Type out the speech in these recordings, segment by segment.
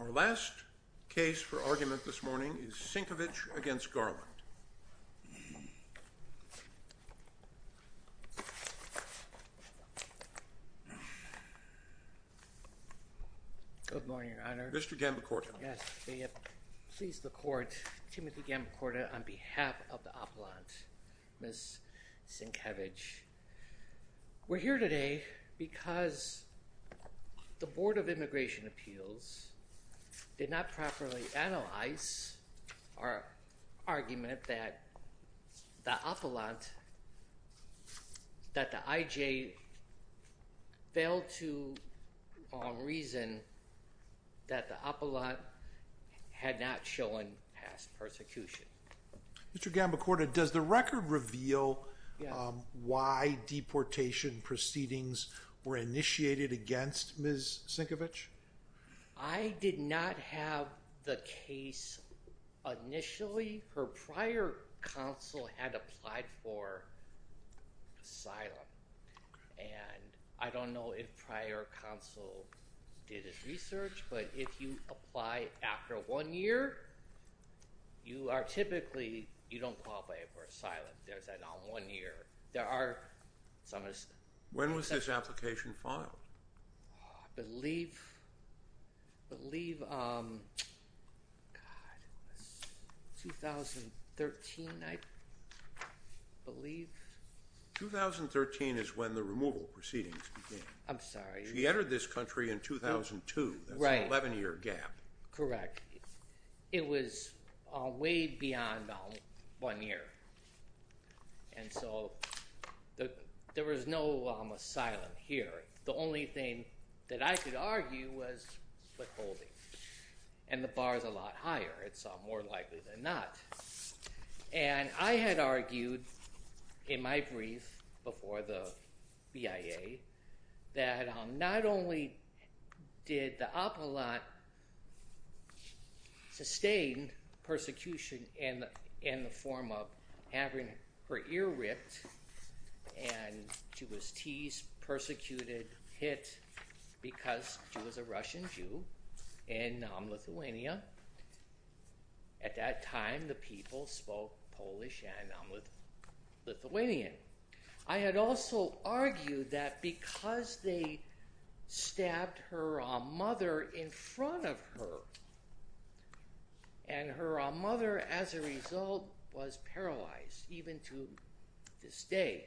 Our last case for argument this morning is Sinkevic v. Garland. Good morning, Your Honor. Mr. Gambacorta. Yes, may it please the Court. Timothy Gambacorta on behalf of the Appellant, Ms. Sinkevic. We're here today because the Board of Immigration Appeals did not properly analyze our argument that the Appellant, that the IJ, failed to reason that the Appellant had not shown past persecution. Mr. Gambacorta, does the record reveal why deportation proceedings were initiated against Ms. Sinkevic? I did not have the case initially. Her prior counsel had applied for asylum, and I don't know if prior counsel did his research, but if you apply after one year, you are typically, you don't qualify for asylum. There's an on one year. When was this application filed? I believe 2013, I believe. 2013 is when the removal proceedings began. I'm sorry. She entered this country in 2002. Right. That's an 11-year gap. Correct. It was way beyond one year, and so there was no asylum here. The only thing that I could argue was withholding, and the bar is a lot higher. It's more likely than not. And I had argued in my brief before the BIA that not only did the Appellant sustain persecution in the form of having her ear ripped, and she was teased, persecuted, hit, because she was a Russian Jew in Lithuania. At that time, the people spoke Polish and Lithuanian. I had also argued that because they stabbed her mother in front of her, and her mother, as a result, was paralyzed, even to this day.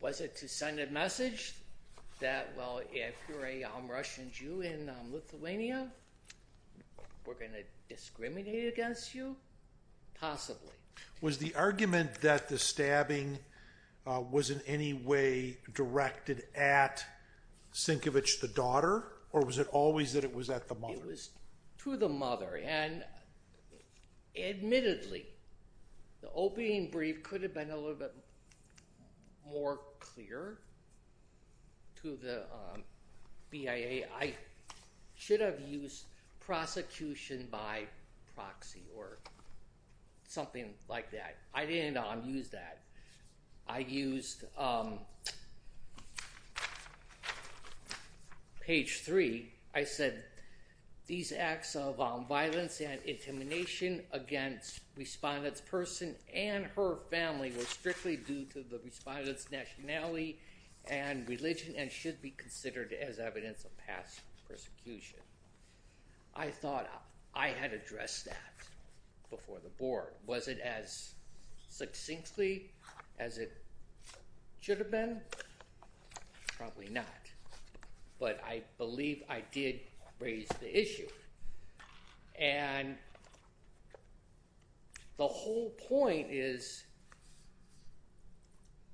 Was it to send a message that, well, if you're a Russian Jew in Lithuania, we're going to discriminate against you? Possibly. Was the argument that the stabbing was in any way directed at Sienkiewicz, the daughter, or was it always that it was at the mother? It was to the mother. Admittedly, the opening brief could have been a little bit more clear to the BIA. I should have used prosecution by proxy or something like that. I didn't use that. I used page three. I said, these acts of violence and intimidation against respondent's person and her family were strictly due to the respondent's nationality and religion and should be considered as evidence of past persecution. I thought I had addressed that before the board. Was it as succinctly as it should have been? Probably not. But I believe I did raise the issue. And the whole point is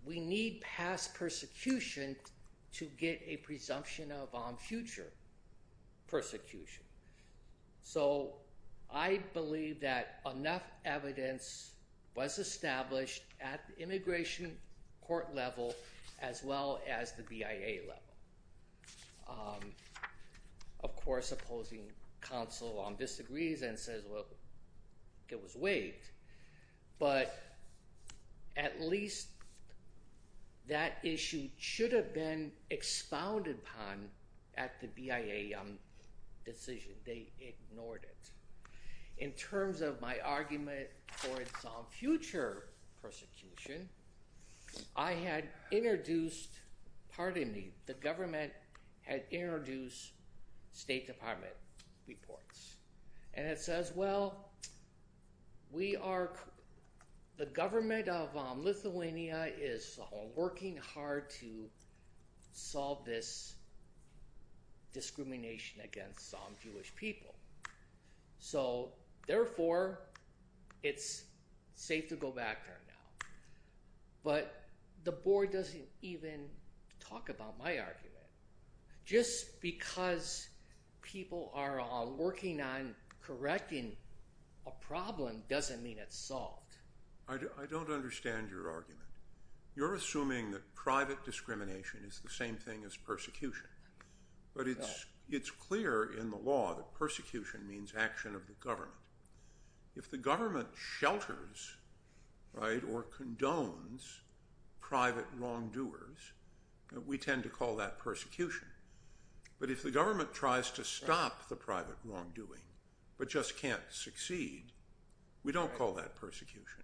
we need past persecution to get a presumption of future persecution. So I believe that enough evidence was established at the immigration court level as well as the BIA level. Of course, opposing counsel disagrees and says, well, it was waived. But at least that issue should have been expounded upon at the BIA decision. They ignored it. In terms of my argument for some future persecution, I had introduced, pardon me, the government had introduced State Department reports. And it says, well, we are the government of Lithuania is working hard to solve this discrimination against Jewish people. So, therefore, it's safe to go back there now. But the board doesn't even talk about my argument. Just because people are working on correcting a problem doesn't mean it's solved. I don't understand your argument. You're assuming that private discrimination is the same thing as persecution. But it's clear in the law that persecution means action of the government. If the government shelters or condones private wrongdoers, we tend to call that persecution. But if the government tries to stop the private wrongdoing but just can't succeed, we don't call that persecution.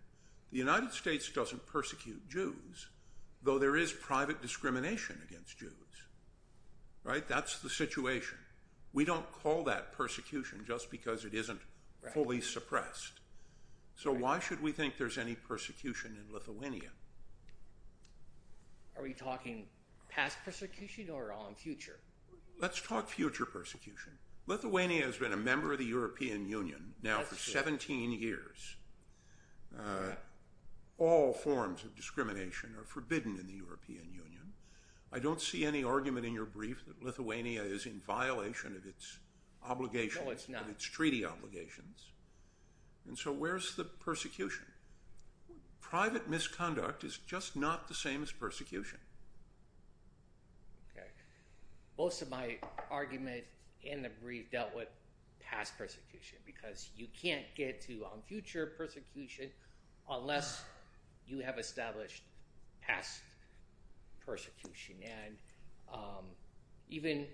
The United States doesn't persecute Jews, though there is private discrimination against Jews. That's the situation. We don't call that persecution just because it isn't fully suppressed. So why should we think there's any persecution in Lithuania? Are we talking past persecution or on future? Let's talk future persecution. Lithuania has been a member of the European Union now for 17 years. All forms of discrimination are forbidden in the European Union. I don't see any argument in your brief that Lithuania is in violation of its obligations, its treaty obligations. So where's the persecution? Private misconduct is just not the same as persecution. Most of my argument in the brief dealt with past persecution because you can't get to future persecution unless you have established past persecution. And even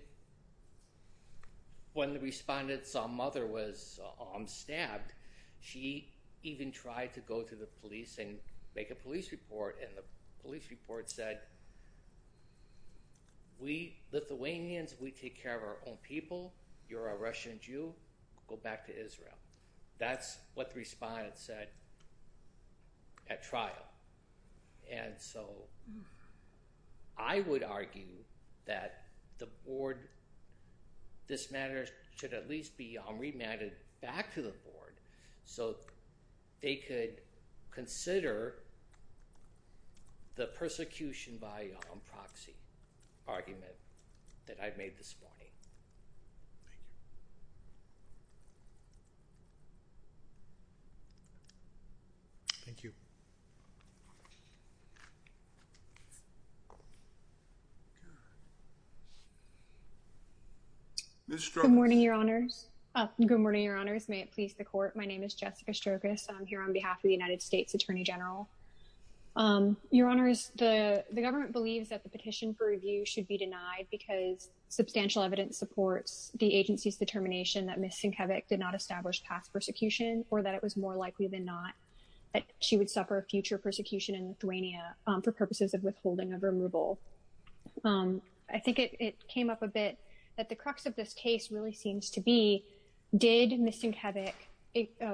when the respondent's mother was stabbed, she even tried to go to the police and make a police report. And the police report said, we Lithuanians, we take care of our own people. You're a Russian Jew. Go back to Israel. That's what the respondent said at trial. And so I would argue that the board, this matter should at least be remanded back to the board so they could consider the persecution by proxy argument that I've made this morning. Thank you. Good morning, Your Honors. Good morning, Your Honors. May it please the court. My name is Jessica Strogas. I'm here on behalf of the United States Attorney General. Your Honors, the government believes that the petition for review should be denied because substantial evidence supports the agency's determination that misdemeanor is a crime. I think it came up a bit that the crux of this case really seems to be, did Ms. Sienkiewicz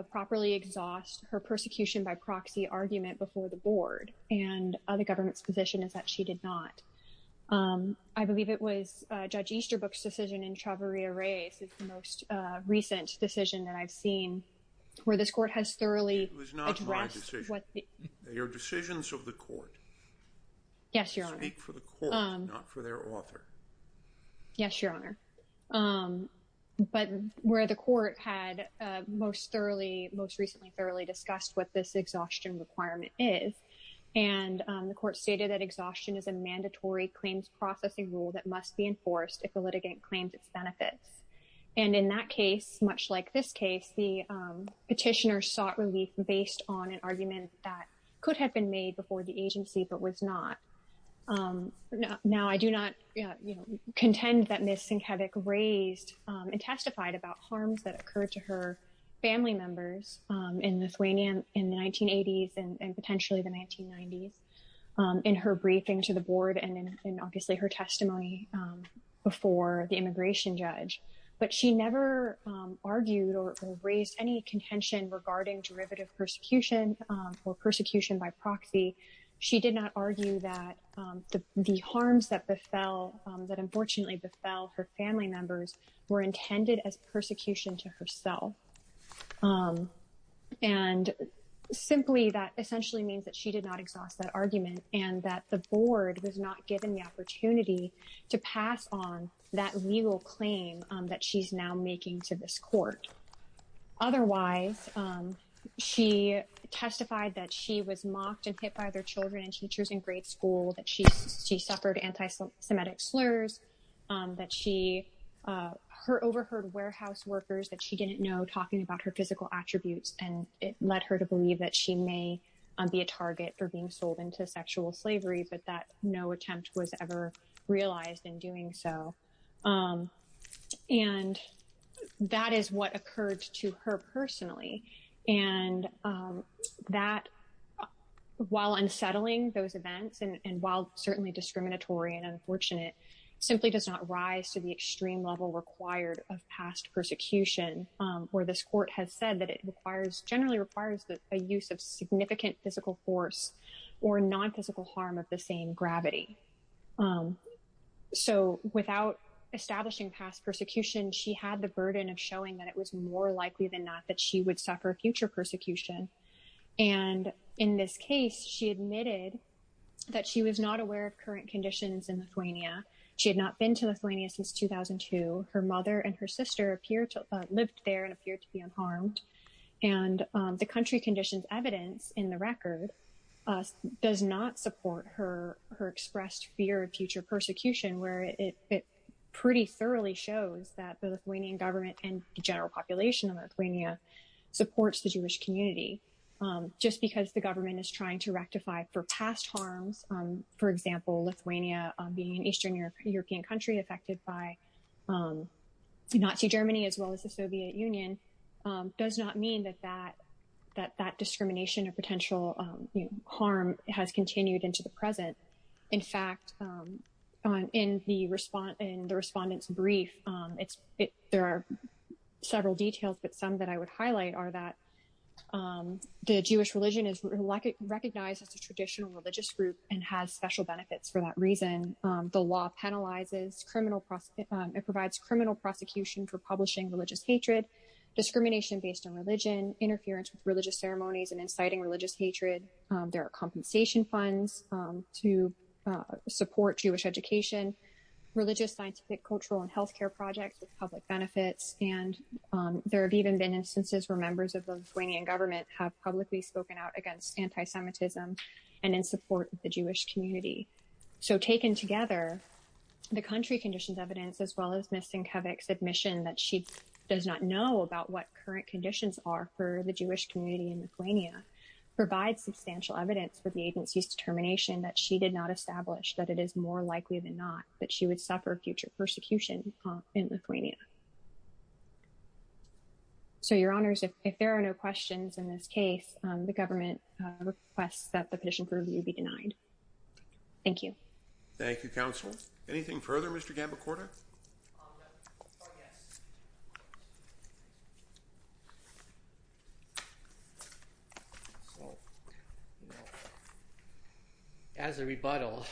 properly exhaust her persecution by proxy argument before the board, and the government's position is that she did not. I believe it was Judge Easterbrook's decision in Chavarria race is the most recent decision that I've seen where this court has thoroughly addressed what your decisions of the court. Yes, Your Honor. Speak for the court, not for their author. Yes, Your Honor. But where the court had most thoroughly most recently thoroughly discussed what this exhaustion requirement is, and the court stated that exhaustion is a mandatory claims processing rule that must be enforced if the litigant claims its benefits. And in that case, much like this case the petitioner sought relief based on an argument that could have been made before the agency but was not. Now I do not contend that Ms. Sienkiewicz raised and testified about harms that occurred to her family members in Lithuania in the 1980s and potentially the 1990s. In her briefing to the board and obviously her testimony before the immigration judge, but she never argued or raised any contention regarding derivative persecution or persecution by proxy. She did not argue that the harms that befell that unfortunately befell her family members were intended as persecution to herself. And simply that essentially means that she did not exhaust that argument and that the board was not given the opportunity to pass on that legal claim that she's now making to this court. Otherwise, she testified that she was mocked and hit by their children and teachers in grade school, that she suffered anti-Semitic slurs, that she overheard warehouse workers that she didn't know talking about her physical attributes, and it led her to believe that she may be a target for being sold into sexual slavery, but that no attempt was ever realized in doing so. And that is what occurred to her personally. And that, while unsettling those events and while certainly discriminatory and unfortunate, simply does not rise to the extreme level required of past persecution, where this court has said that it generally requires the use of significant physical force or non-physical harm of the same gravity. So without establishing past persecution, she had the burden of showing that it was more likely than not that she would suffer future persecution. And in this case, she admitted that she was not aware of current conditions in Lithuania. She had not been to Lithuania since 2002. Her mother and her sister lived there and appeared to be unharmed. And the country conditions evidence in the record does not support her expressed fear of future persecution, where it pretty thoroughly shows that the Lithuanian government and the general population of Lithuania supports the Jewish community. Just because the government is trying to rectify for past harms, for example, Lithuania being an Eastern European country affected by Nazi Germany, as well as the Soviet Union, does not mean that that discrimination or potential harm has continued into the present. In fact, in the respondent's brief, there are several details, but some that I would highlight are that the Jewish religion is recognized as a traditional religious group and has special benefits for that reason. The law penalizes criminal, it provides criminal prosecution for publishing religious hatred, discrimination based on religion, interference with religious ceremonies and inciting religious hatred. There are compensation funds to support Jewish education, religious, scientific, cultural and healthcare projects with public benefits. And there have even been instances where members of the Lithuanian government have publicly spoken out against anti-Semitism and in support of the Jewish community. So taken together, the country conditions evidence, as well as Ms. Sienkiewicz's admission that she does not know about what current conditions are for the Jewish community in Lithuania, provides substantial evidence for the agency's determination that she did not establish that it is more likely than not that she would suffer future persecution in Lithuania. So, Your Honors, if there are no questions in this case, the government requests that the petition be denied. Thank you. Thank you, Counsel. Anything further, Mr. Gambacorda? As a rebuttal,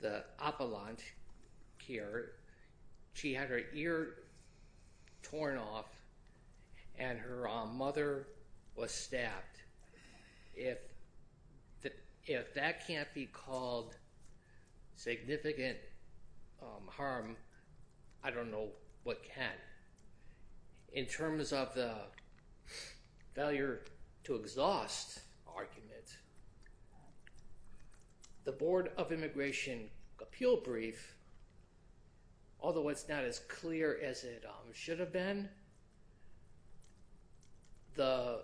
the appellant here, she had her ear torn off and her mother was stabbed. If that can't be called significant harm, I don't know what can. In terms of the failure to exhaust argument, the Board of Immigration Appeal Brief, although it's not as clear as it should have been, the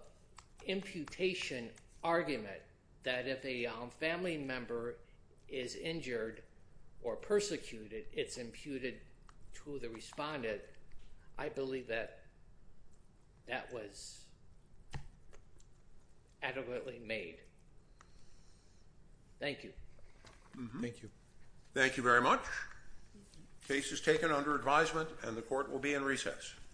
imputation argument that if a family member is injured or persecuted, it's imputed to the respondent, I believe that that was adequately made. Thank you. Thank you. Thank you very much. Case is taken under advisement and the court will be in recess.